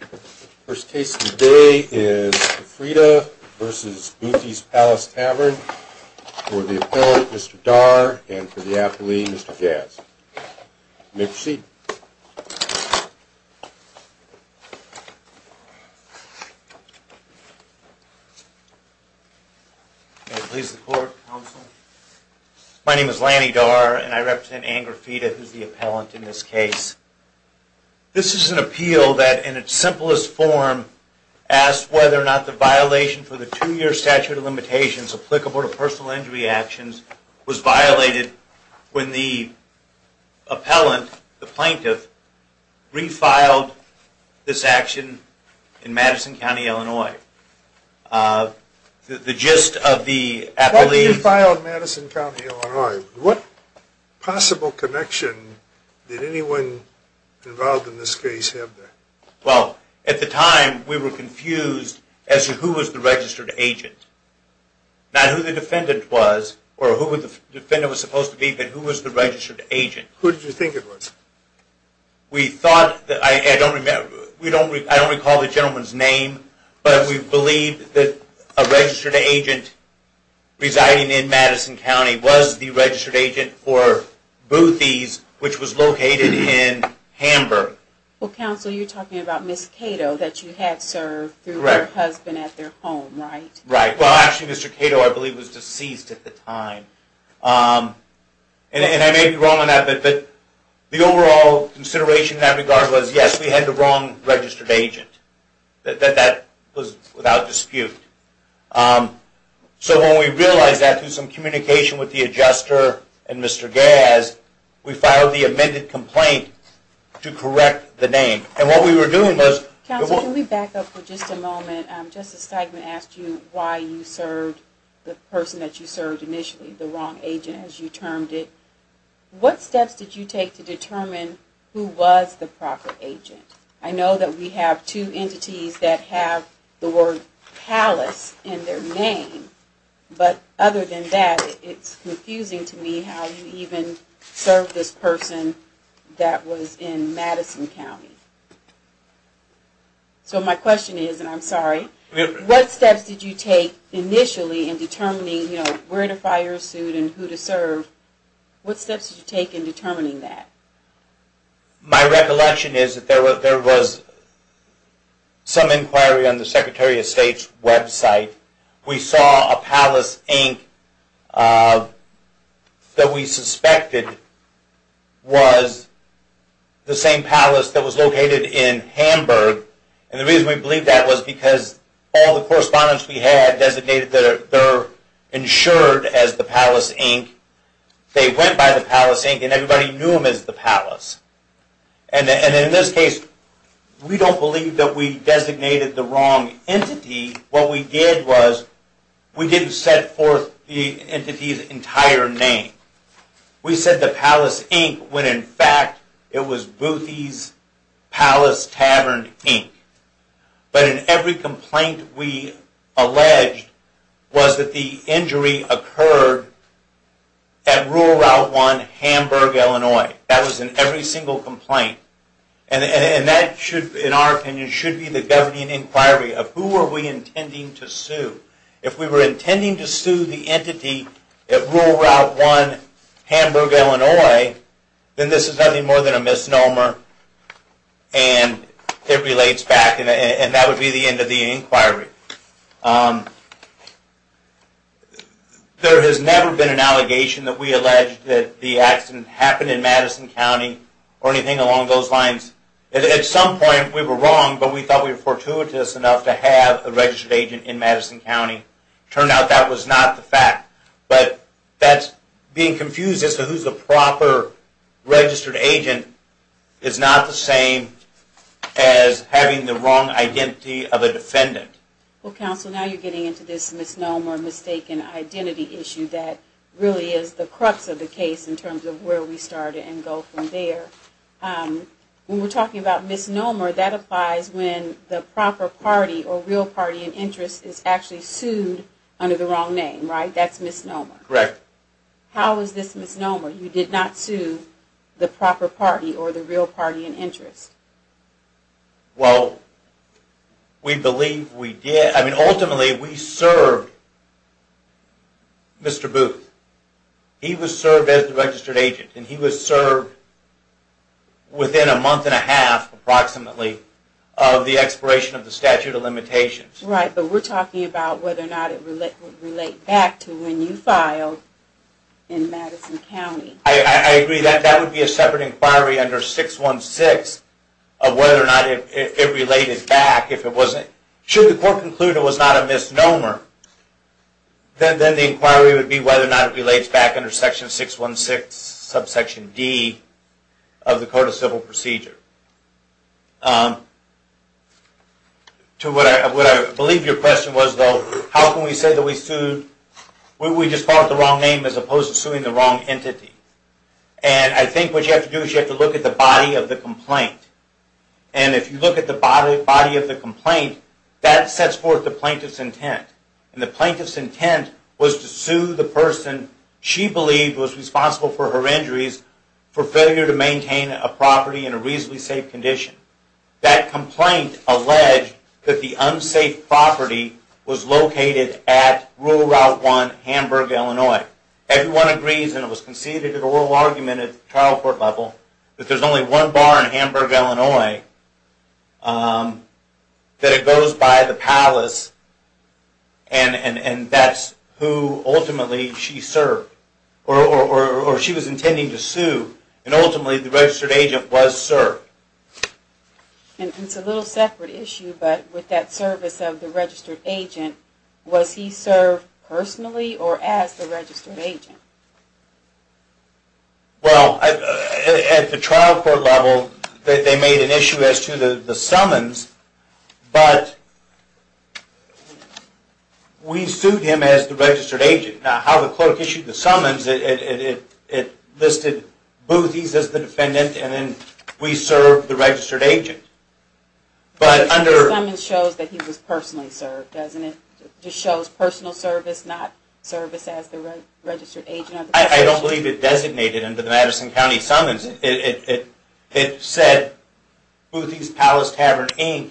The first case of the day is Griffrida v. Boothy's Palace Tavern for the appellant, Mr. Darr, and for the appellee, Mr. Jazz. You may proceed. May it please the Court, Counsel. My name is Lanny Darr, and I represent Ann Graffita, who is the appellant in this case. This is an appeal that, in its simplest form, asks whether or not the violation for the two-year statute of limitations applicable to personal injury actions was violated when the appellant, the plaintiff, refiled this action in Madison County, Illinois. The gist of the appellee's... Why did you file in Madison County, Illinois? What possible connection did anyone involved in this case have there? Well, at the time, we were confused as to who was the registered agent. Not who the defendant was, or who the defendant was supposed to be, but who was the registered agent. Who did you think it was? We thought... I don't recall the gentleman's name, but we believed that a registered agent residing in Madison County was the registered agent for Boothy's, which was located in Hamburg. Well, Counsel, you're talking about Ms. Cato that you had served through her husband at their home, right? Right. Well, actually, Mr. Cato, I believe, was deceased at the time. And I may be wrong on that, but the overall consideration in that regard was, yes, we had the wrong registered agent. That was without dispute. So when we realized that through some communication with the adjuster and Mr. Gazz, we filed the amended complaint to correct the name. And what we were doing was... Can we back up for just a moment? Justice Steigman asked you why you served the person that you served initially, the wrong agent, as you termed it. What steps did you take to determine who was the proper agent? I know that we have two entities that have the word palace in their name, but other than that, it's confusing to me how you even served this person that was in Madison County. So my question is, and I'm sorry, what steps did you take initially in determining where to file your suit and who to serve? What steps did you take in determining that? My recollection is that there was some inquiry on the Secretary of State's website. We saw a palace, Inc., that we suspected was the same palace that was located in Hamburg. And the reason we believed that was because all the correspondents we had designated their insured as the palace, Inc. They went by the palace, Inc., and everybody knew them as the palace. And in this case, we don't believe that we designated the wrong entity. What we did was we didn't set forth the entity's entire name. We said the palace, Inc., when in fact it was Boothy's Palace Tavern, Inc. But in every complaint we alleged was that the injury occurred at Rural Route 1, Hamburg, Illinois. That was in every single complaint. And that should, in our opinion, should be the governing inquiry of who are we intending to sue. If we were intending to sue the entity at Rural Route 1, Hamburg, Illinois, then this is nothing more than a misnomer and it relates back. And that would be the end of the inquiry. There has never been an allegation that we alleged that the accident happened in Madison County or anything along those lines. At some point we were wrong, but we thought we were fortuitous enough to have a registered agent in Madison County. It turned out that was not the fact. But that's being confused as to who's the proper registered agent is not the same as having the wrong identity of a defendant. Well, Counsel, now you're getting into this misnomer, mistaken identity issue that really is the crux of the case in terms of where we started and go from there. When we're talking about misnomer, that applies when the proper party or real party in interest is actually sued under the wrong name, right? That's misnomer. Correct. How is this misnomer? You did not sue the proper party or the real party in interest. Well, we believe we did. I mean, ultimately we served Mr. Booth. He was served as the registered agent and he was served within a month and a half approximately of the expiration of the statute of limitations. Right, but we're talking about whether or not it would relate back to when you filed in Madison County. I agree. That would be a separate inquiry under 616 of whether or not it related back. Should the court conclude it was not a misnomer, then the inquiry would be whether or not it relates back under section 616 subsection D of the Code of Civil Procedure. To what I believe your question was though, how can we say that we sued, we just filed with the wrong name as opposed to suing the wrong entity? And I think what you have to do is you have to look at the body of the complaint. And if you look at the body of the complaint, that sets forth the plaintiff's intent. And the plaintiff's intent was to sue the person she believed was responsible for her injuries for failure to maintain a property in a reasonably safe condition. That complaint alleged that the unsafe property was located at Rural Route 1, Hamburg, Illinois. Everyone agrees, and it was conceded in a oral argument at the trial court level, that there's only one bar in Hamburg, Illinois, that it goes by the palace, and that's who ultimately she served, or she was intending to sue, and ultimately the registered agent was served. And it's a little separate issue, but with that service of the registered agent, was he served personally or as the registered agent? Well, at the trial court level, they made an issue as to the summons, but we sued him as the registered agent. Now, how the court issued the summons, it listed Boothys as the defendant, and then we served the registered agent. But the summons shows that he was personally served, doesn't it? It just shows personal service, not service as the registered agent. I don't believe it designated under the Madison County summons. It said Boothys Palace Tavern, Inc.,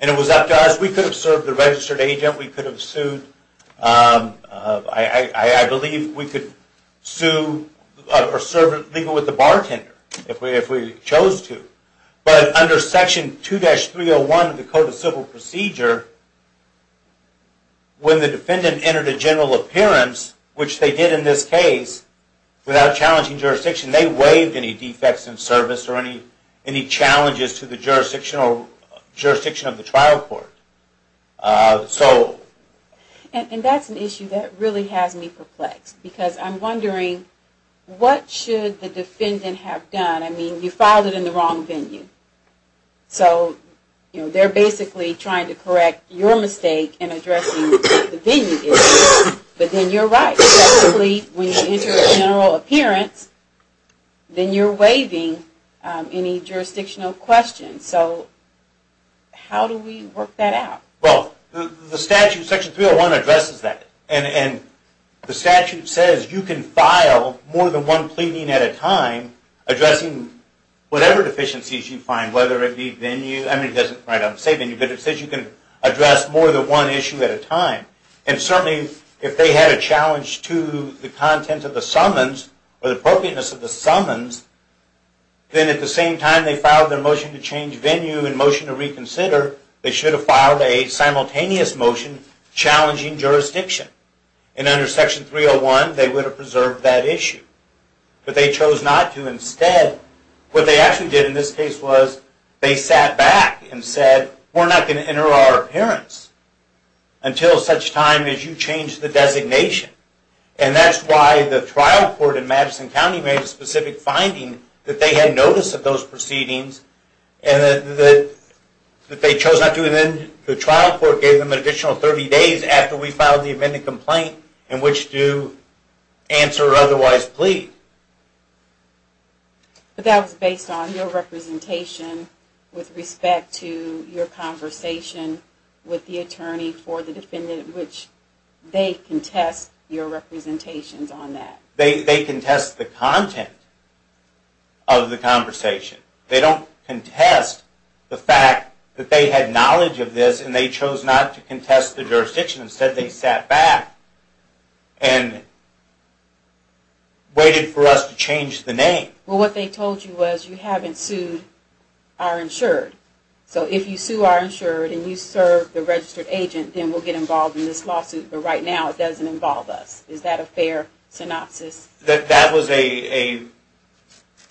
and it was up to us. We could have served the registered agent, we could have sued, I believe we could sue, or serve legally with the bartender, if we chose to. But under Section 2-301 of the Code of Civil Procedure, when the defendant entered a general appearance, which they did in this case, without challenging jurisdiction, they waived any defects in service or any challenges to the jurisdiction of the trial court. And that's an issue that really has me perplexed, because I'm wondering, what should the defendant have done? I mean, you filed it in the wrong venue. So they're basically trying to correct your mistake in addressing the venue issue, but then you're right. So basically, when you enter a general appearance, then you're waiving any jurisdictional questions. So how do we work that out? Well, the statute, Section 3-0-1, addresses that. And the statute says you can file more than one pleading at a time, addressing whatever deficiencies you find, whether it be venue. I mean, it doesn't say venue, but it says you can address more than one issue at a time. And certainly, if they had a challenge to the content of the summons, or the appropriateness of the summons, then at the same time they filed their motion to change venue and motion to reconsider, they should have filed a simultaneous motion challenging jurisdiction. And under Section 3-0-1, they would have preserved that issue. But they chose not to instead. What they actually did in this case was, they sat back and said, we're not going to enter our appearance until such time as you change the designation. And that's why the trial court in Madison County made a specific finding that they had notice of those proceedings, and that they chose not to. And then the trial court gave them an additional 30 days after we filed the amended complaint in which to answer or otherwise plead. But that was based on your representation with respect to your conversation with the attorney for the defendant, which they contest your representations on that. They contest the content of the conversation. They don't contest the fact that they had knowledge of this and they chose not to contest the jurisdiction. Instead, they sat back and waited for us to change the name. Well, what they told you was, you haven't sued our insured. So if you sue our insured and you serve the registered agent, then we'll get involved in this lawsuit. But right now, it doesn't involve us. Is that a fair synopsis? That was a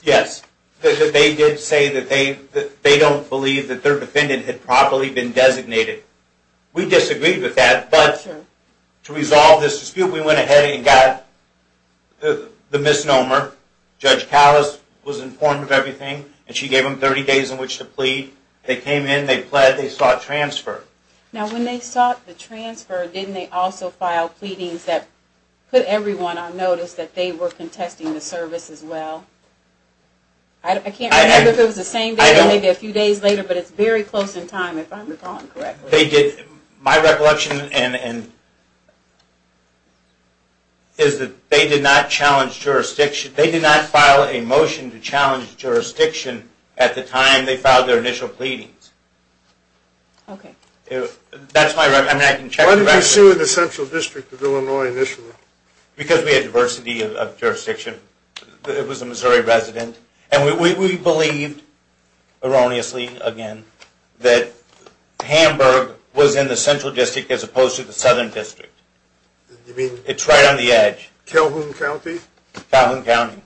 yes. They did say that they don't believe that their defendant had properly been designated. We disagreed with that, but to resolve this dispute, we went ahead and got the misnomer. Judge Callis was informed of everything, and she gave them 30 days in which to plead. They came in, they pled, they sought transfer. Now, when they sought the transfer, didn't they also file pleadings that put everyone on notice that they were contesting the service as well? I can't remember if it was the same day or maybe a few days later, but it's very close in time, if I'm recalling correctly. My recollection is that they did not file a motion to challenge jurisdiction at the time they filed their initial pleadings. Why did you sue the Central District of Illinois initially? Because we had diversity of jurisdiction. It was a Missouri resident. And we believed, erroneously again, that Hamburg was in the Central District as opposed to the Southern District. It's right on the edge. Calhoun County? Calhoun County.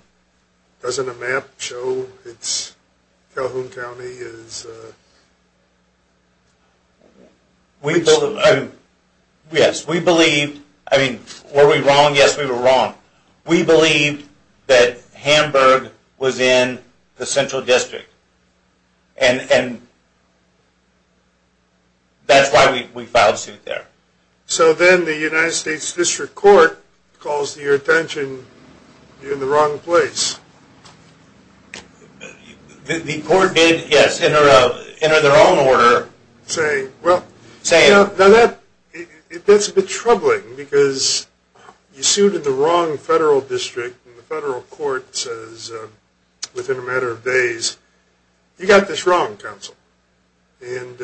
Doesn't a map show it's Calhoun County? Yes, we believed. I mean, were we wrong? Yes, we were wrong. We believed that Hamburg was in the Central District. And that's why we filed a suit there. So then the United States District Court calls to your attention, you're in the wrong place. The court did, yes, enter their own order. That's a bit troubling, because you sued in the wrong federal district. And the federal court says within a matter of days, you got this wrong, counsel. And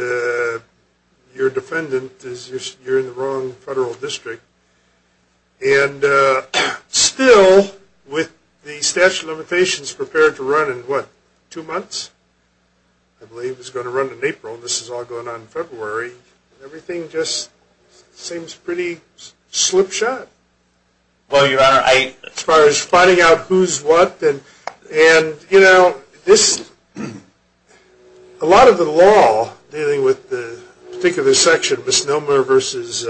your defendant is, you're in the wrong federal district. And still, with the statute of limitations prepared to run in what, two months? I believe it's going to run in April, and this is all going on in February. And everything just seems pretty slip shot. As far as finding out who's what, and you know, a lot of the law dealing with the particular section, misnomer versus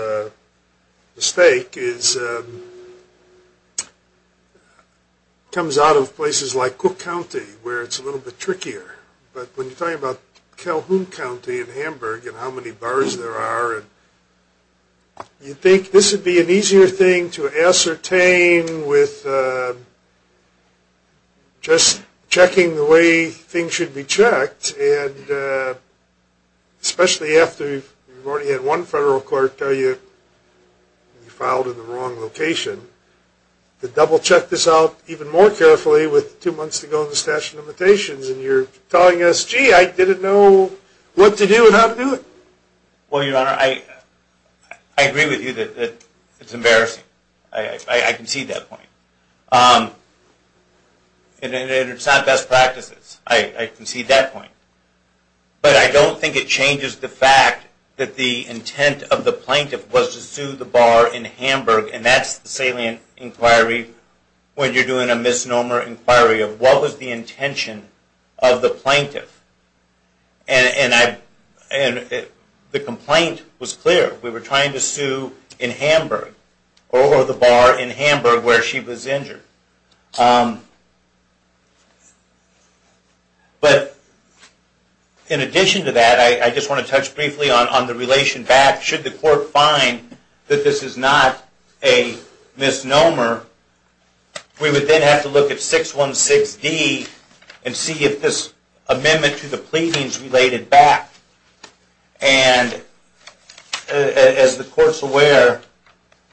mistake, comes out of places like Cook County, where it's a little bit trickier. But when you're talking about Calhoun County and Hamburg, and how many bars there are, you'd think this would be an easier thing to ascertain with just checking the way things should be checked. And especially after you've already had one federal court tell you, you filed in the wrong location, to double check this out even more carefully with two months to go in the statute of limitations, and you're telling us, gee, I didn't know what to do and how to do it. Well, your honor, I agree with you that it's embarrassing. I concede that point. And it's not best practices. I concede that point. But I don't think it changes the fact that the intent of the plaintiff was to sue the bar in Hamburg, and that's the salient inquiry when you're doing a misnomer inquiry, of what was the intention of the plaintiff. And the complaint was clear. We were trying to sue in Hamburg, or the bar in Hamburg where she was injured. But in addition to that, I just want to touch briefly on the relation back. Should the court find that this is not a misnomer, we would then have to look at 616D and see if this amendment to the pleading is related back. And as the court's aware,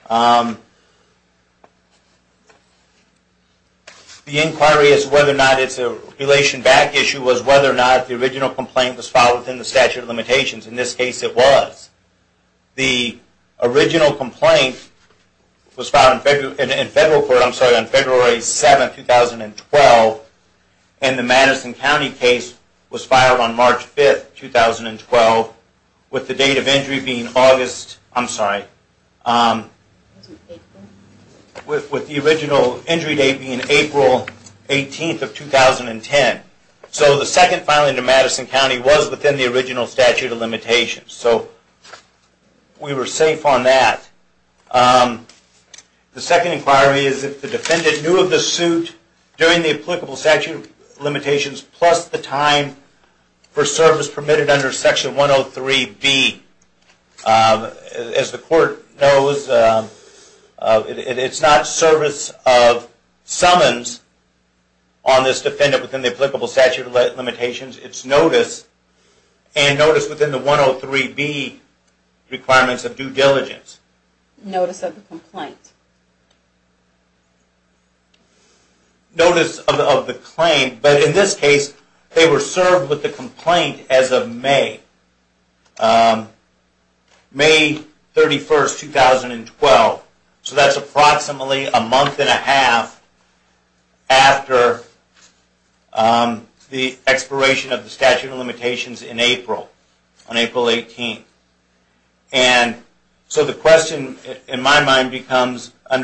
the inquiry is whether or not it's a relation back issue, was whether or not the original complaint was filed within the statute of limitations. In this case, it was. The original complaint was filed in federal court on February 7, 2012, and the Madison County case was filed on March 5, 2012, with the date of injury being August, I'm sorry, with the original injury date being April 18, 2010. So the second filing to Madison County was within the original statute of limitations. We were safe on that. The second inquiry is if the defendant knew of the suit during the applicable statute of limitations, plus the time for service permitted under Section 103B. As the court knows, it's not service of summons on this defendant within the applicable statute of limitations, it's notice, and notice within the 103B requirements of due diligence. Notice of the complaint. But in this case, they were served with the complaint as of May. May 31, 2012. So that's approximately a month and a half after the expiration of the statute of limitations in April. On April 18. So the question in my mind becomes, or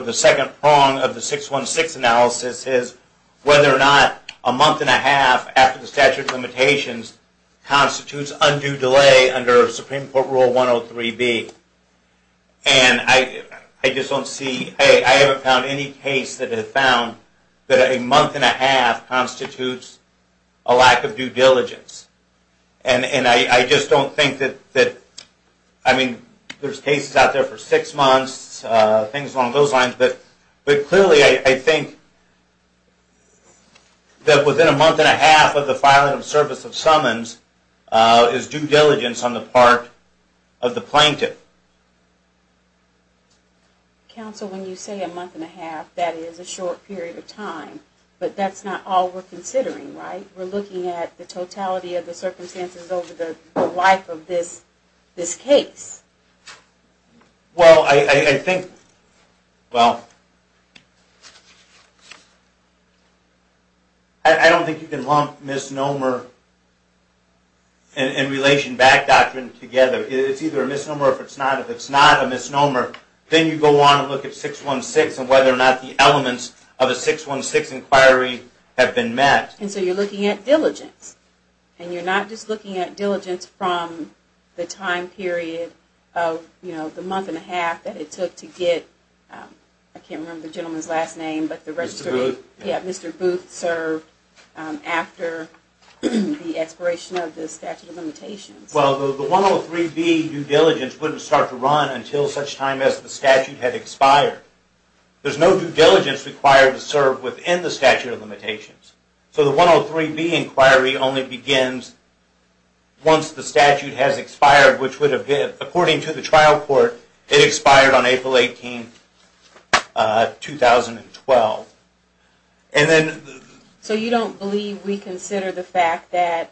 the second prong of the 616 analysis, is whether or not a month and a half after the statute of limitations constitutes undue delay under Supreme Court Rule 103B. I haven't found any case that has found that a month and a half constitutes a lack of due diligence. And I just don't think that, I mean, there's cases out there for six months, things along those lines, but clearly I think that within a month and a half of the filing of service of summons is due diligence on the part of the plaintiff. Counsel, when you say a month and a half, that is a short period of time, but that's not all we're considering, right? We're looking at the totality of the circumstances over the life of this case. I don't think you can lump misnomer and relation back doctrine together. It's either a misnomer or if it's not. If it's not a misnomer, then you go on and look at 616 and whether or not the elements of a 616 inquiry have been met. And so you're looking at diligence. And you're not just looking at diligence from the time period of the month and a half that it took to get, I can't remember the gentleman's last name, Mr. Booth served after the expiration of the statute of limitations. Well, the 103B due diligence wouldn't start to run until such time as the statute had expired. There's no due diligence required to serve within the statute of limitations. So the 103B inquiry only begins once the statute has expired, which would have, according to the trial court, it expired on April 18, 2012. So you don't believe we consider the fact that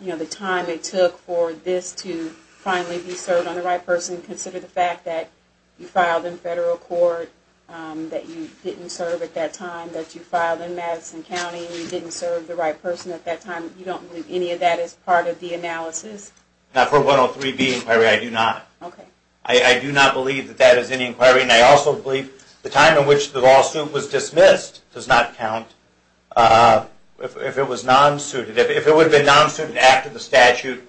the time it took for this to finally be served on the right person, consider the fact that you filed in federal court, that you didn't serve at that time, that you filed in Madison County and you didn't serve the right person at that time, you don't believe any of that is part of the analysis? Not for a 103B inquiry, I do not. I do not believe that that is any inquiry. And I also believe the time in which the lawsuit was dismissed does not count if it was non-suited. If it would have been non-suited after the statute,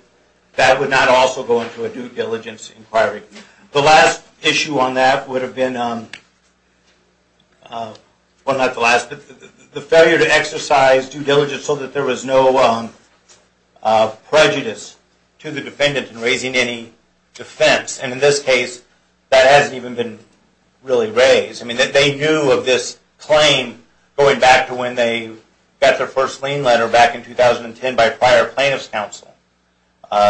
that would not also go into a due diligence inquiry. The last issue on that would have been, well not the last, the failure to exercise due diligence so that there was no prejudice to the defendant in raising any defense. And in this case, that hasn't even been really raised. I mean, they knew of this claim going back to when they got their first lien letter back in 2010 by a prior plaintiff's counsel.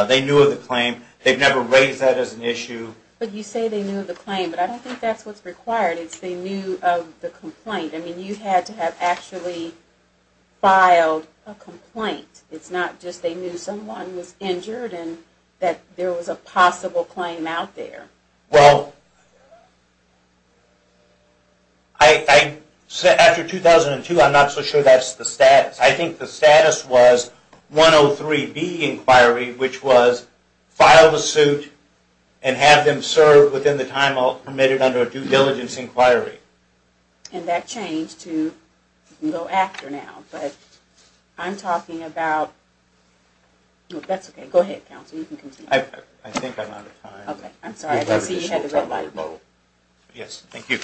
They knew of the claim. They've never raised that as an issue. But you say they knew of the claim, but I don't think that's what's required. It's they knew of the complaint. I mean, you had to have actually filed a complaint. It's not just they knew someone was injured and that there was a possible claim out there. Well, after 2002, I'm not so sure that's the status. I think the status was 103B inquiry, which was file the suit and have them serve within the time permitted under a due diligence inquiry. And that changed to, you can go after now, but I'm talking about, that's okay, go ahead counsel, you can continue. I think I'm out of time. Yes, thank you.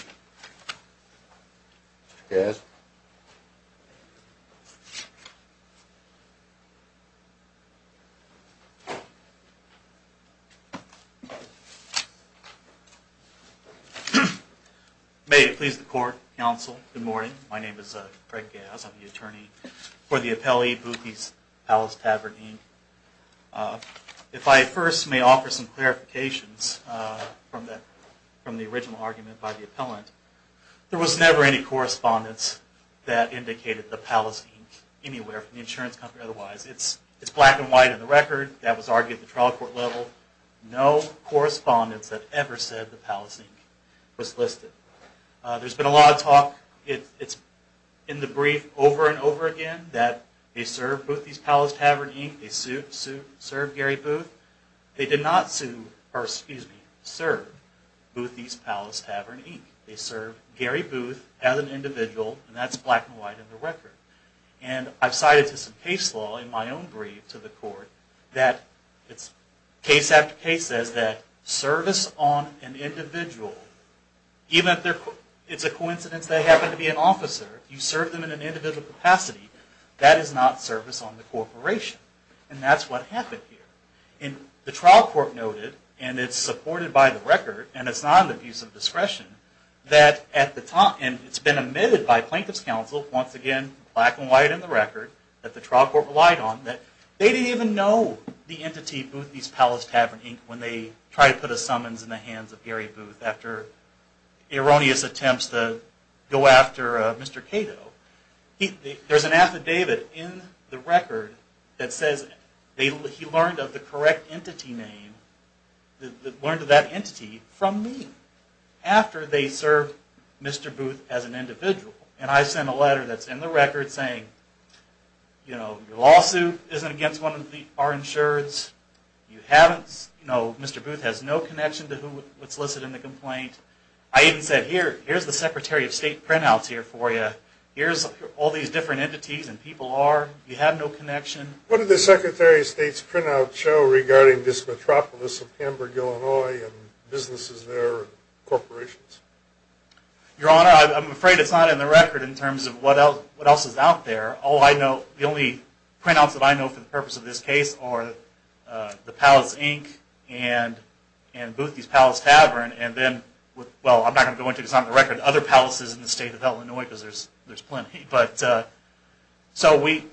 May it please the court, counsel, good morning. My name is Fred Gass, I'm the attorney for the appellee Boothys Palace Tavern, Inc. If I first may offer some clarifications from the original argument by the appellant, there was never any correspondence that indicated the Palace, Inc. anywhere from the insurance company otherwise. It's black and white on the record. That was argued at the trial court level. No correspondence that ever said the Palace, Inc. was listed. There's been a lot of talk, it's in the brief over and over again, that they served Boothys Palace Tavern, Inc., they sued, sued, served Gary Booth. They did not sue, or excuse me, serve Boothys Palace Tavern, Inc. They served Gary Booth as an individual, and that's black and white on the record. And I've cited to some case law in my own brief to the court, that it's case after case, that service on an individual, even if it's a coincidence they happen to be an officer, you serve them in an individual capacity, that is not service on the corporation. And that's what happened here. And the trial court noted, and it's supported by the record, and it's not an abuse of discretion, that at the time, and it's been admitted by Plaintiff's Counsel, once again, black and white in the record, that the trial court relied on, that they didn't even know the entity, Boothys Palace Tavern, Inc., when they tried to put a summons in the hands of Gary Booth after erroneous attempts to go after Mr. Cato. There's an affidavit in the record that says he learned of the correct entity name, learned of that entity from me, after they served Mr. Booth as an individual. And I sent a letter that's in the record saying, you know, your lawsuit isn't against one of our insureds, you haven't, you know, Mr. Booth has no connection to who was solicited in the complaint. I even said, here, here's the Secretary of State printouts here for you. Here's all these different entities and people are, you have no connection. What did the Secretary of State's printout show regarding this metropolis of Hamburg, Illinois, and businesses there, and corporations? Your Honor, I'm afraid it's not in the record in terms of what else is out there. All I know, the only printouts that I know for the purpose of this case are the Palace, Inc., and Boothys Palace Tavern, and then, well, I'm not going to go into it, it's not in the record, other palaces in the state of Illinois, because there's plenty. But, so we,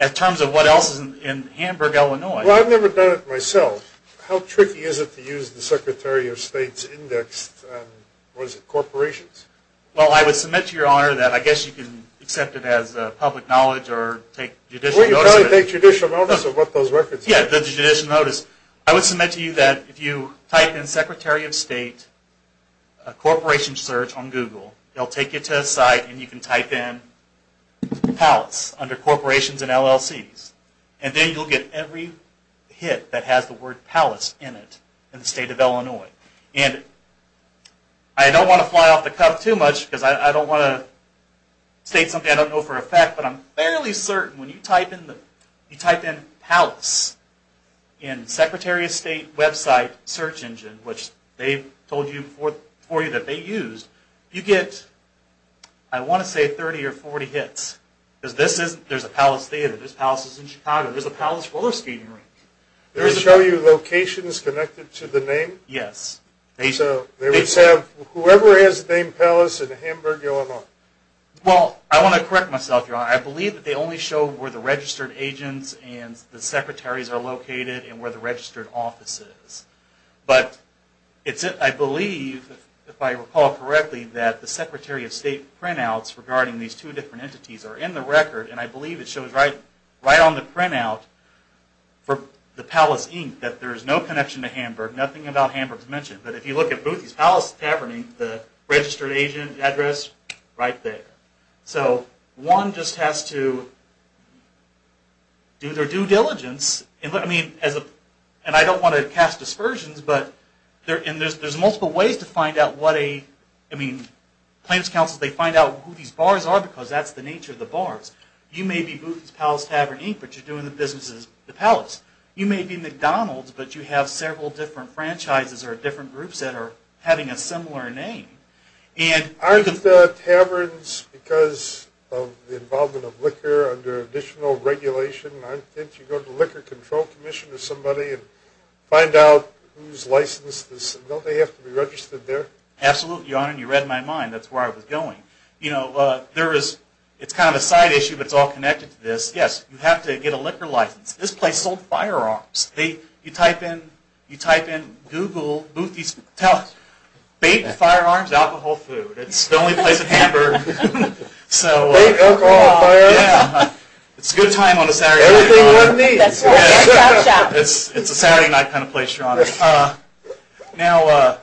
in terms of what else is in Hamburg, Illinois. Well, I've never done it myself. How tricky is it to use the Secretary of State's index on, what is it, corporations? Well, I would submit to Your Honor that I guess you can accept it as public knowledge or take judicial notice. Well, you can only take judicial notice of what those records are. Yeah, the judicial notice. I would submit to you that if you type in Secretary of State Corporation Search on Google, it'll take you to a site and you can type in Palace under Corporations and LLCs. And then you'll get every hit that has the word Palace in it in the state of Illinois. And I don't want to fly off the cuff too much, because I don't want to state something I don't know for a fact, but I'm fairly certain when you type in Palace in the Secretary of State website search engine, which they've told you before that they used, you get, I want to say, 30 or 40 hits. Because this isn't, there's a Palace Theater, there's Palaces in Chicago, there's a Palace Roller Skating Rink. They show you locations connected to the name? Yes. So they would have, whoever has the name Palace in Hamburg, Illinois? Well, I want to correct myself, Your Honor. I believe that they only show where the registered agents and the secretaries are located and where the registered office is. But it's, I believe, if I recall correctly, that the Secretary of State printouts regarding these two different entities are in the record, and I believe it shows right on the printout for the Palace Inc. that there is no connection to Hamburg, nothing about Hamburg is mentioned. But if you look at Boothys Palace Tavern, the registered agent address, right there. So one just has to do their due diligence. And I don't want to cast aspersions, but there's multiple ways to find out what a, I mean, claims counsels, they find out who these bars are because that's the nature of the bars. You may be Boothys Palace Tavern Inc., but you're doing the business as the Palace. You may be McDonald's, but you have several different franchises or different groups that are having a similar name. Aren't the taverns, because of the involvement of liquor, under additional regulation, aren't you going to go to the Liquor Control Commission or somebody and find out who's licensed this? Don't they have to be registered there? Absolutely, Your Honor, and you read my mind. That's where I was going. You know, there is, it's kind of a side issue, but it's all connected to this. Yes, you have to get a liquor license. This place sold firearms. You type in Google Boothys Palace, baked firearms, alcohol, food. It's the only place in Hamburg. Baked alcohol, firearms. It's a good time on a Saturday night, Your Honor. It's a Saturday night kind of place, Your Honor. Now,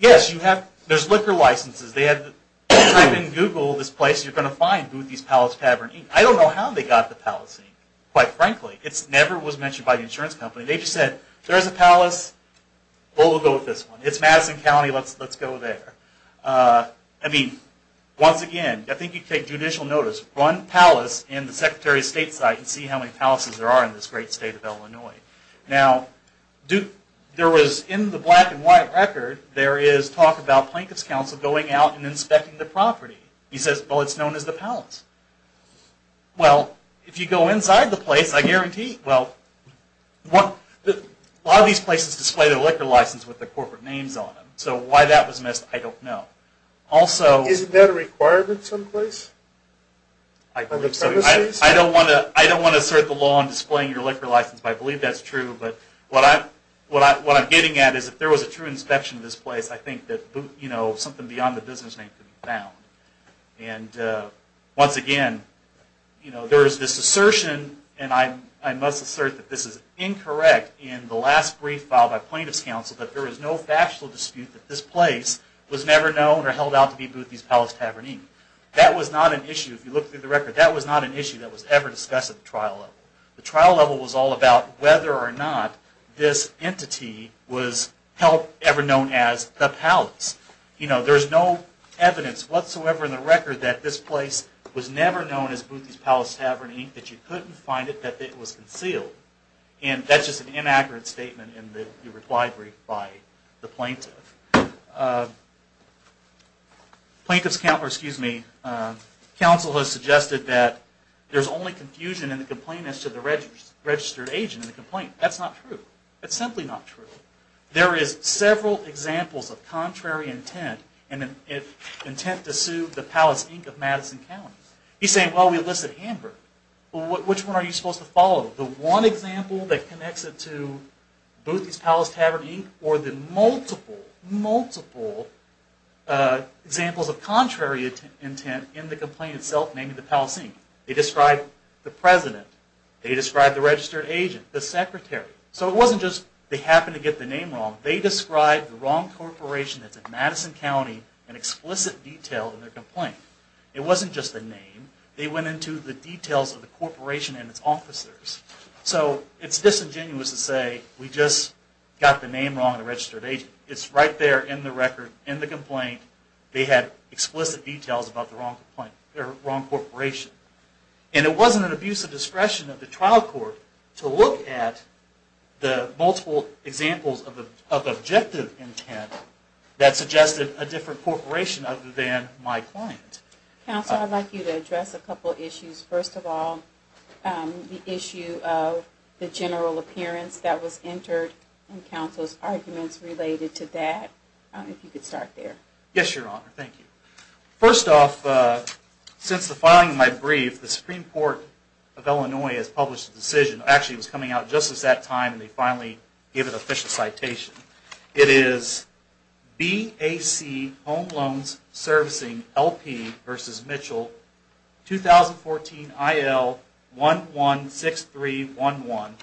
yes, you have, there's liquor licenses. They had, type in Google this place, you're going to find Boothys Palace Tavern Inc. I don't know how they got the Palace Inc., quite frankly. It never was mentioned by the insurance company. They just said, there's a palace, we'll go with this one. It's Madison County, let's go there. I mean, once again, I think you take judicial notice. Run Palace in the Secretary of State site and see how many palaces there are in this great state of Illinois. Now, there was, in the black and white record, there is talk about Plaintiff's Counsel going out and inspecting the property. He says, well, it's known as the Palace. Well, if you go inside the place, I guarantee, well, a lot of these places display their liquor license with their corporate names on them. So why that was missed, I don't know. Also... Isn't that a requirement someplace? I believe so. I don't want to assert the law on displaying your liquor license, but I believe that's true. But what I'm getting at is if there was a true inspection of this place, I think that something beyond the business name could be found. And once again, there is this assertion, and I must assert that this is incorrect in the last brief filed by Plaintiff's Counsel, that there is no factual dispute that this place was never known or held out to be Boothby's Palace Tavern, Inc. That was not an issue. If you look through the record, that was not an issue that was ever discussed at the trial level. The trial level was all about whether or not this entity was held ever known as the Palace. You know, there's no evidence whatsoever in the record that this place was never known as Boothby's Palace Tavern, Inc., that you couldn't find it, that it was concealed. And that's just an inaccurate statement in the reply brief by the plaintiff. Plaintiff's Counsel has suggested that there's only confusion in the complainants to the registered agent in the complaint. That's not true. That's simply not true. There is several examples of contrary intent and intent to sue the Palace, Inc. of Madison County. He's saying, well, we elicit Hamburg. Well, which one are you supposed to follow? The one example that connects it to Boothby's Palace Tavern, Inc., or the multiple, multiple examples of contrary intent in the complaint itself, namely the Palace, Inc.? They described the president. They described the registered agent, the secretary. So it wasn't just they happened to get the name wrong. They described the wrong corporation that's in Madison County in explicit detail in their complaint. It wasn't just the name. They went into the details of the corporation and its officers. So it's disingenuous to say we just got the name wrong in the registered agent. It's right there in the record, in the complaint. They had explicit details about the wrong corporation. And it wasn't an abuse of discretion of the trial court to look at the multiple examples of objective intent that suggested a different corporation other than my client. Counsel, I'd like you to address a couple of issues. First of all, the issue of the general appearance that was entered in counsel's arguments related to that. If you could start there. Yes, Your Honor. Thank you. First off, since the filing of my brief, the Supreme Court of Illinois has published a decision. Actually, it was coming out just at that time, and they finally gave an official citation. It is BAC Home Loans Servicing LP v. Mitchell, 2014 IL 116311,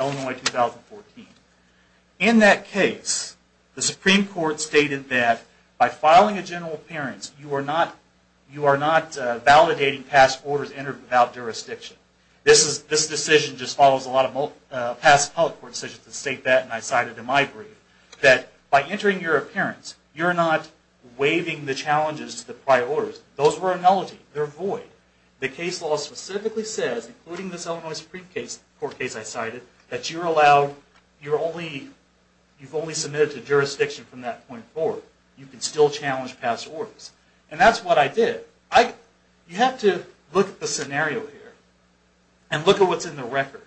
Illinois 2014. In that case, the Supreme Court stated that by filing a general appearance, you are not validating past orders entered without jurisdiction. This decision just follows a lot of past public court decisions. I state that, and I cite it in my brief, that by entering your appearance, you're not waiving the challenges to the prior orders. Those were a nullity. They're void. The case law specifically says, including this Illinois Supreme Court case I cited, that you've only submitted to jurisdiction from that point forward. You can still challenge past orders. And that's what I did. You have to look at the scenario here, and look at what's in the record.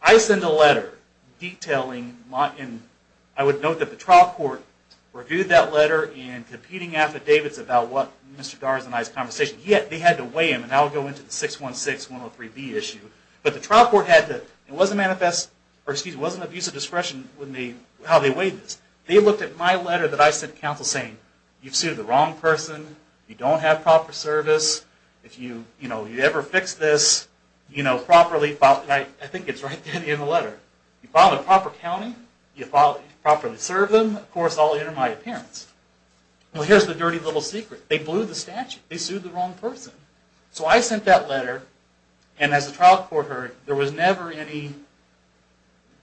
I sent a letter detailing, and I would note that the trial court reviewed that letter and competing affidavits about what Mr. Garza and I's conversation. They had to weigh him, and I'll go into the 616-103B issue. But the trial court had to, it wasn't abuse of discretion how they weighed this. They looked at my letter that I sent to counsel saying, you've sued the wrong person. You don't have proper service. If you ever fix this properly, I think it's right there in the letter. You file in the proper county. You properly serve them. Of course, I'll enter my appearance. Well, here's the dirty little secret. They blew the statute. They sued the wrong person. So I sent that letter, and as the trial court heard, there was never any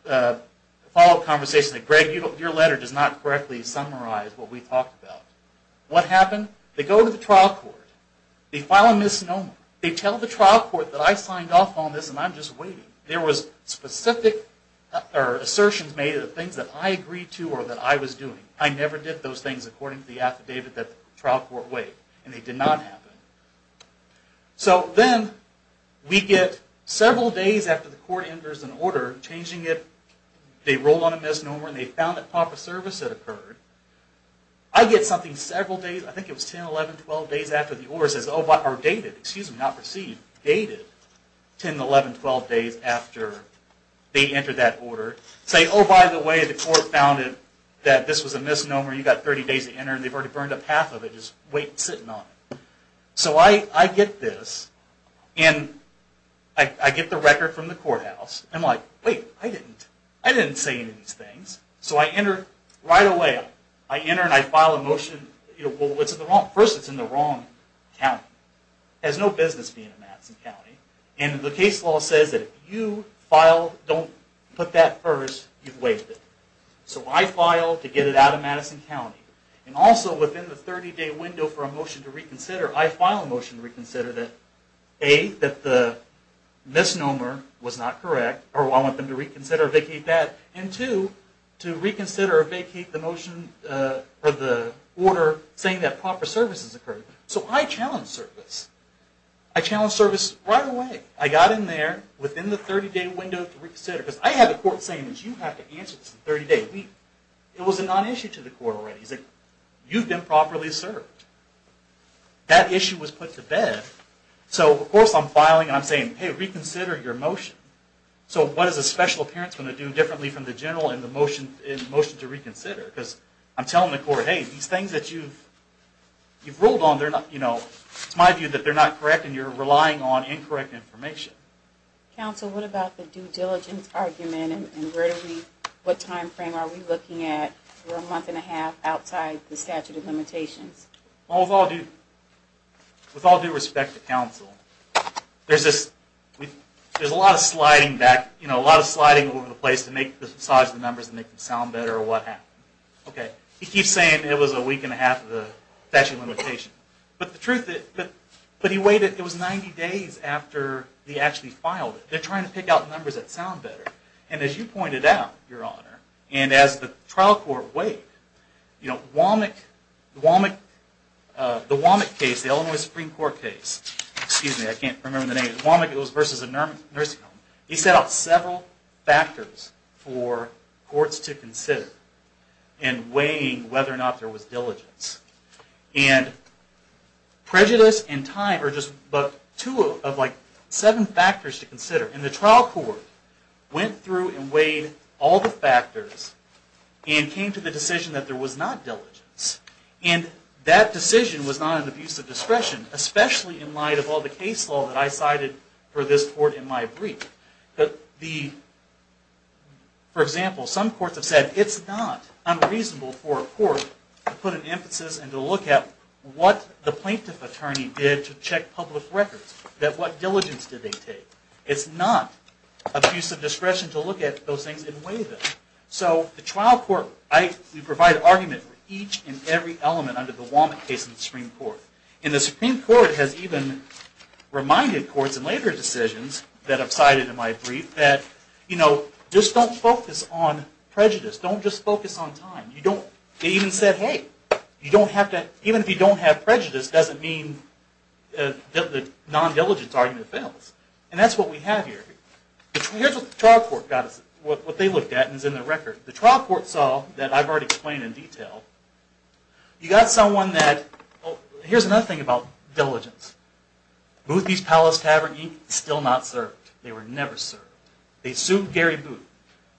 follow-up conversation. Greg, your letter does not correctly summarize what we talked about. What happened? They go to the trial court. They file a misnomer. They tell the trial court that I signed off on this, and I'm just waiting. There was specific assertions made of the things that I agreed to or that I was doing. I never did those things according to the affidavit that the trial court weighed, and they did not happen. So then we get several days after the court enters an order, changing it. They rolled on a misnomer, and they found that proper service had occurred. I get something several days, I think it was 10, 11, 12 days after the order, dated, 10, 11, 12 days after they entered that order, saying, oh, by the way, the court found that this was a misnomer. You've got 30 days to enter, and they've already burned up half of it, just waiting, sitting on it. So I get this, and I get the record from the courthouse. I'm like, wait, I didn't say any of these things. So I enter right away. I enter, and I file a motion. Well, first, it's in the wrong county. It has no business being in Madison County, and the case law says that if you don't put that first, you've waived it. So I file to get it out of Madison County, and also within the 30-day window for a motion to reconsider, I file a motion to reconsider that, A, that the misnomer was not correct, or I want them to reconsider or vacate that, and, two, to reconsider or vacate the motion or the order saying that proper service has occurred. So I challenge service. I challenge service right away. I got in there within the 30-day window to reconsider, because I had the court saying, you have to answer this in 30 days. It was a non-issue to the court already. He's like, you've been properly served. That issue was put to bed. So, of course, I'm filing, and I'm saying, hey, reconsider your motion. So what is a special appearance going to do differently from the general in the motion to reconsider? Because I'm telling the court, hey, these things that you've ruled on, it's my view that they're not correct, and you're relying on incorrect information. Counsel, what about the due diligence argument, and what time frame are we looking at? We're a month and a half outside the statute of limitations. Well, with all due respect to counsel, there's a lot of sliding back, you know, a lot of sliding over the place to make the size of the numbers and make them sound better or what have you. Okay. He keeps saying it was a week and a half of the statute of limitations. But the truth is, but he waited. It was 90 days after he actually filed it. They're trying to pick out numbers that sound better. And as you pointed out, Your Honor, and as the trial court weighed, you know, Womack, the Womack case, the Illinois Supreme Court case, excuse me, I can't remember the name. Womack, it was versus a nursing home. He set out several factors for courts to consider in weighing whether or not there was diligence. And prejudice and time are just but two of like seven factors to consider. And the trial court went through and weighed all the factors and came to the decision that there was not diligence. And that decision was not an abuse of discretion, especially in light of all the case law that I cited for this court in my brief. For example, some courts have said it's not unreasonable for a court to put an emphasis and to look at what the plaintiff attorney did to check public records, that what diligence did they take. It's not abuse of discretion to look at those things and weigh them. So the trial court, we provide argument for each and every element under the Womack case in the Supreme Court. And the Supreme Court has even reminded courts in later decisions that I've cited in my brief that, you know, just don't focus on prejudice. Don't just focus on time. They even said, hey, even if you don't have prejudice, doesn't mean that the non-diligence argument fails. And that's what we have here. Here's what the trial court got us, what they looked at, and is in the record. The trial court saw that I've already explained in detail. You got someone that, here's another thing about diligence. Booth East Palace Tavern Inc. is still not served. They were never served. They sued Gary Booth.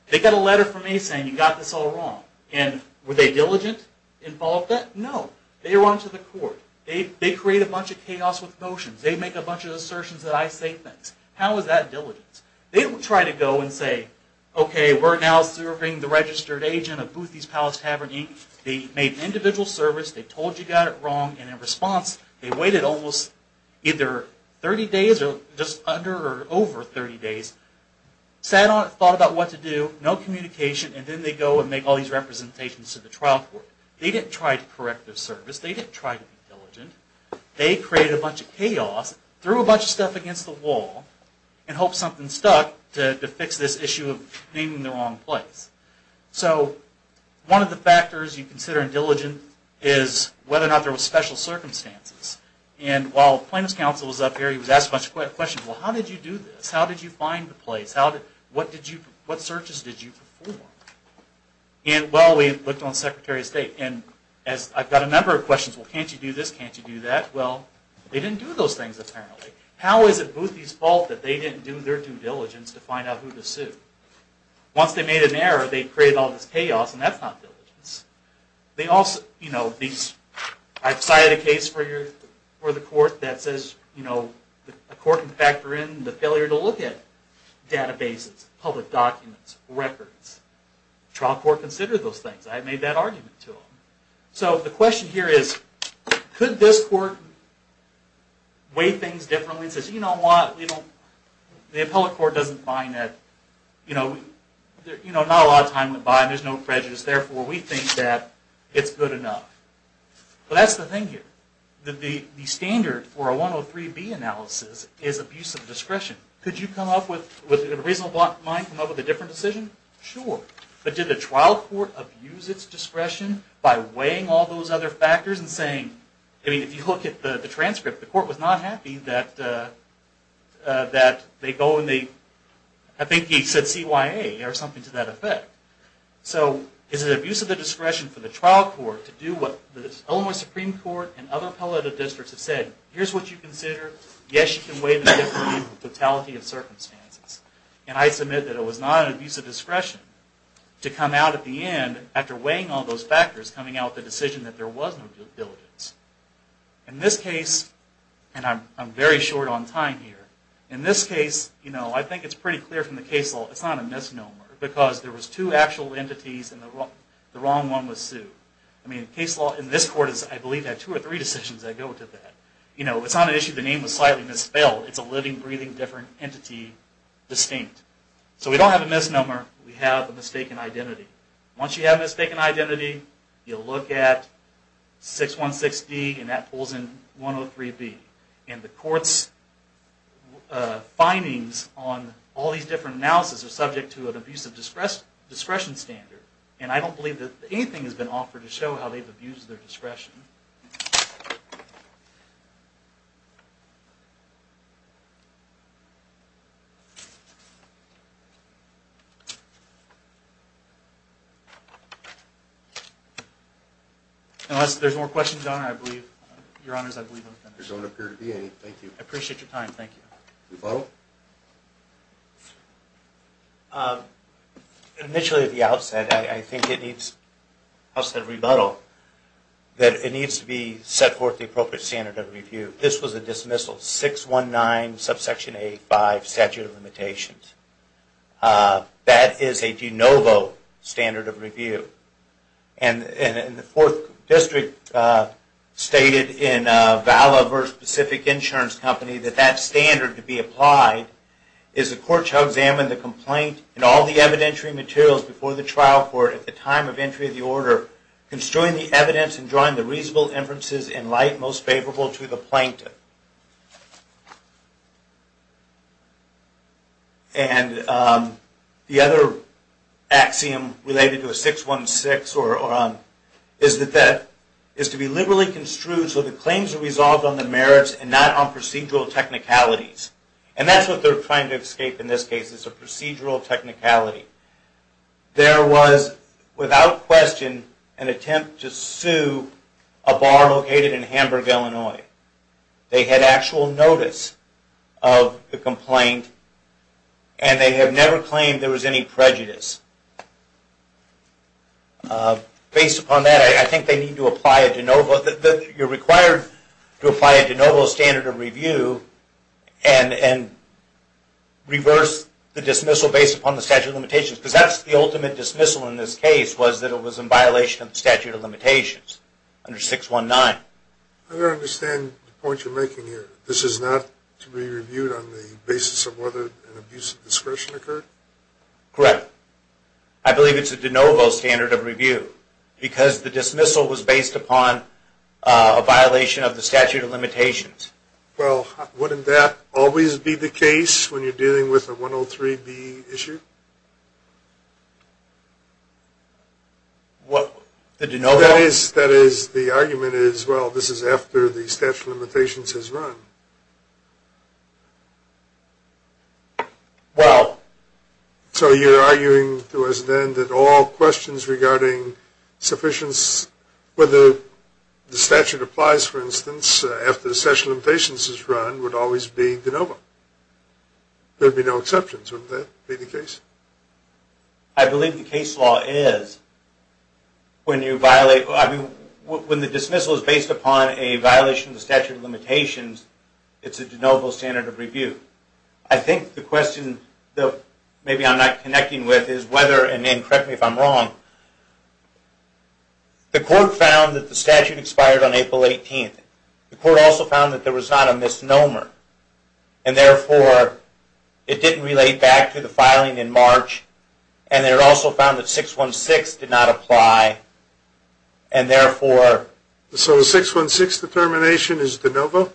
They got a letter from me saying, you got this all wrong. And were they diligent in all of that? No. They run to the court. They create a bunch of chaos with motions. They make a bunch of assertions that I say things. How is that diligence? They don't try to go and say, okay, we're now serving the registered agent of Booth East Palace Tavern Inc. They made individual service. They told you got it wrong. And in response, they waited almost either 30 days or just under or over 30 days. Sat on it, thought about what to do. No communication. And then they go and make all these representations to the trial court. They didn't try to correct their service. They didn't try to be diligent. They created a bunch of chaos, threw a bunch of stuff against the wall, and hoped something stuck to fix this issue of naming the wrong place. So one of the factors you consider in diligent is whether or not there were special circumstances. And while plaintiff's counsel was up here, he was asked a bunch of questions. Well, how did you do this? How did you find the place? What searches did you perform? Well, we looked on Secretary of State. And I've got a number of questions. Well, can't you do this? Can't you do that? Well, they didn't do those things, apparently. How is it Booth East's fault that they didn't do their due diligence to find out who to sue? Once they made an error, they created all this chaos, and that's not diligence. They also, you know, I've cited a case for the court that says, you know, a court can factor in the failure to look at databases, public documents, records. The trial court considered those things. I made that argument to them. So the question here is, could this court weigh things differently and say, you know what, the appellate court doesn't find that, you know, not a lot of time went by and there's no prejudice, therefore we think that it's good enough. Well, that's the thing here. The standard for a 103B analysis is abuse of discretion. Could you come up with a reasonable mind, come up with a different decision? Sure. But did the trial court abuse its discretion by weighing all those other factors and saying, I mean, if you look at the transcript, the court was not happy that they go and they, I think he said CYA or something to that effect. So is it abuse of the discretion for the trial court to do what the Illinois Supreme Court and other appellate districts have said? Here's what you consider. Yes, you can weigh the difference between the totality of circumstances. And I submit that it was not an abuse of discretion to come out at the end after weighing all those factors, coming out with a decision that there was no diligence. In this case, and I'm very short on time here, in this case, you know, I think it's pretty clear from the case law it's not a misnomer because there was two actual entities and the wrong one was sued. I mean, the case law in this court has, I believe, had two or three decisions that go to that. You know, it's not an issue the name was slightly misspelled. It's a living, breathing, different entity distinct. So we don't have a misnomer. We have a mistaken identity. Once you have a mistaken identity, you look at 616D and that pulls in 103B. And the court's findings on all these different analysis are subject to an abuse of discretion standard. And I don't believe that anything has been offered to show how they've abused their discretion. Unless there's more questions, Your Honors, I believe I'm finished. There don't appear to be any. Thank you. Thank you. Rebuttal? Initially, at the outset, I think it needs, I said rebuttal, that it needs to be set forth the appropriate standard of review. This was a dismissal, 619 subsection A5, statute of limitations. That is a de novo standard of review. And the Fourth District stated in Vala versus Pacific Insurance Company that that standard could be applied is the court shall examine the complaint and all the evidentiary materials before the trial court at the time of entry of the order, construing the evidence and drawing the reasonable inferences in light most favorable to the plaintiff. And the other axiom related to a 616 is that that is to be liberally construed so the claims are resolved on the merits and not on procedural technicalities. And that's what they're trying to escape in this case is a procedural technicality. There was, without question, an attempt to sue a bar located in Hamburg, Illinois. They had actual notice of the complaint and they have never claimed there was any prejudice. Based upon that, I think they need to apply a de novo, you're required to review and reverse the dismissal based upon the statute of limitations because that's the ultimate dismissal in this case was that it was in violation of the statute of limitations under 619. I don't understand the point you're making here. This is not to be reviewed on the basis of whether an abuse of discretion occurred? Correct. I believe it's a de novo standard of review because the dismissal was based upon a violation of the statute of limitations. Well, wouldn't that always be the case when you're dealing with a 103B issue? What? The de novo? That is the argument is, well, this is after the statute of limitations has run. Well. So you're arguing to us then that all questions regarding sufficiency, whether the statute applies, for instance, after the statute of limitations has run would always be de novo. There would be no exceptions. Wouldn't that be the case? I believe the case law is. When the dismissal is based upon a violation of the statute of limitations, it's a de novo standard of review. I think the question that maybe I'm not connecting with is whether, and then correct me if I'm wrong, the court found that the statute expired on April 18th. The court also found that there was not a misnomer, and therefore it didn't relate back to the filing in March, and it also found that 616 did not apply, and therefore. So the 616 determination is de novo?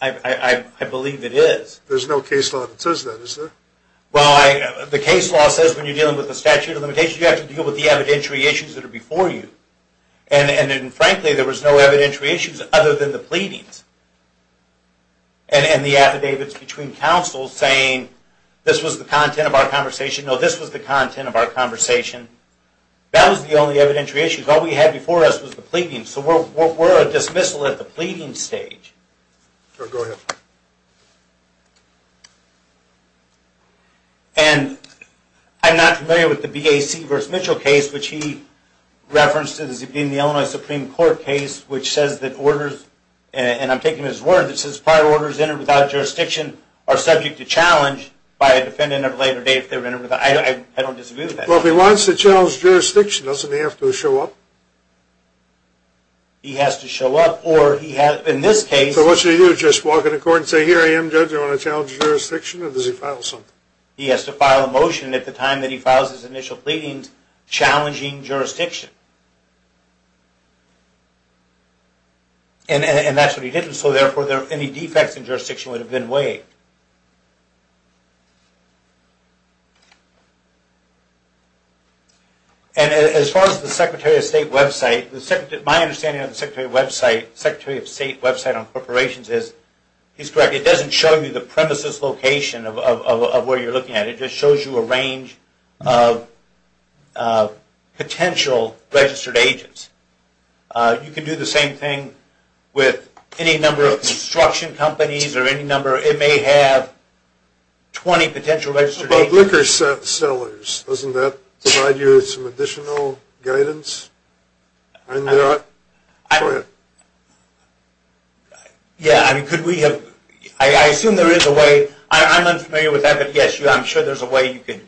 I believe it is. There's no case law that says that, is there? Well, the case law says when you're dealing with the statute of limitations, you have to deal with the evidentiary issues that are before you. And frankly, there was no evidentiary issues other than the pleadings and the affidavits between counsels saying this was the content of our conversation. No, this was the content of our conversation. That was the only evidentiary issue. All we had before us was the pleadings. So we're a dismissal at the pleading stage. Go ahead. And I'm not familiar with the BAC v. Mitchell case, which he referenced in the Illinois Supreme Court case, which says that orders, and I'm taking his word, that says prior orders entered without jurisdiction are subject to challenge by a defendant at a later date if they were entered without. I don't disagree with that. Well, if he wants to challenge jurisdiction, doesn't he have to show up? He has to show up. So what should he do, just walk into court and say, here I am, judge, I want to challenge jurisdiction? Or does he file something? He has to file a motion at the time that he files his initial pleadings challenging jurisdiction. And that's what he did. And so, therefore, any defects in jurisdiction would have been waived. And as far as the Secretary of State website, my understanding of the Secretary of State website on corporations is, he's correct, it doesn't show you the premises location of where you're looking at. It just shows you a range of potential registered agents. You can do the same thing with any number of construction companies or any number. It may have 20 potential registered agents. Liquor sellers, doesn't that provide you with some additional guidance? Yeah, I assume there is a way. I'm unfamiliar with that, but yes, I'm sure there's a way you can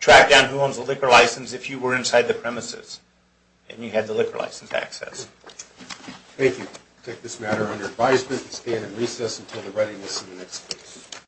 track down who owns a liquor license if you were inside the premises and you had the liquor license access. Thank you. We'll take this matter under advisement. We'll stand in recess until the readiness of the next case.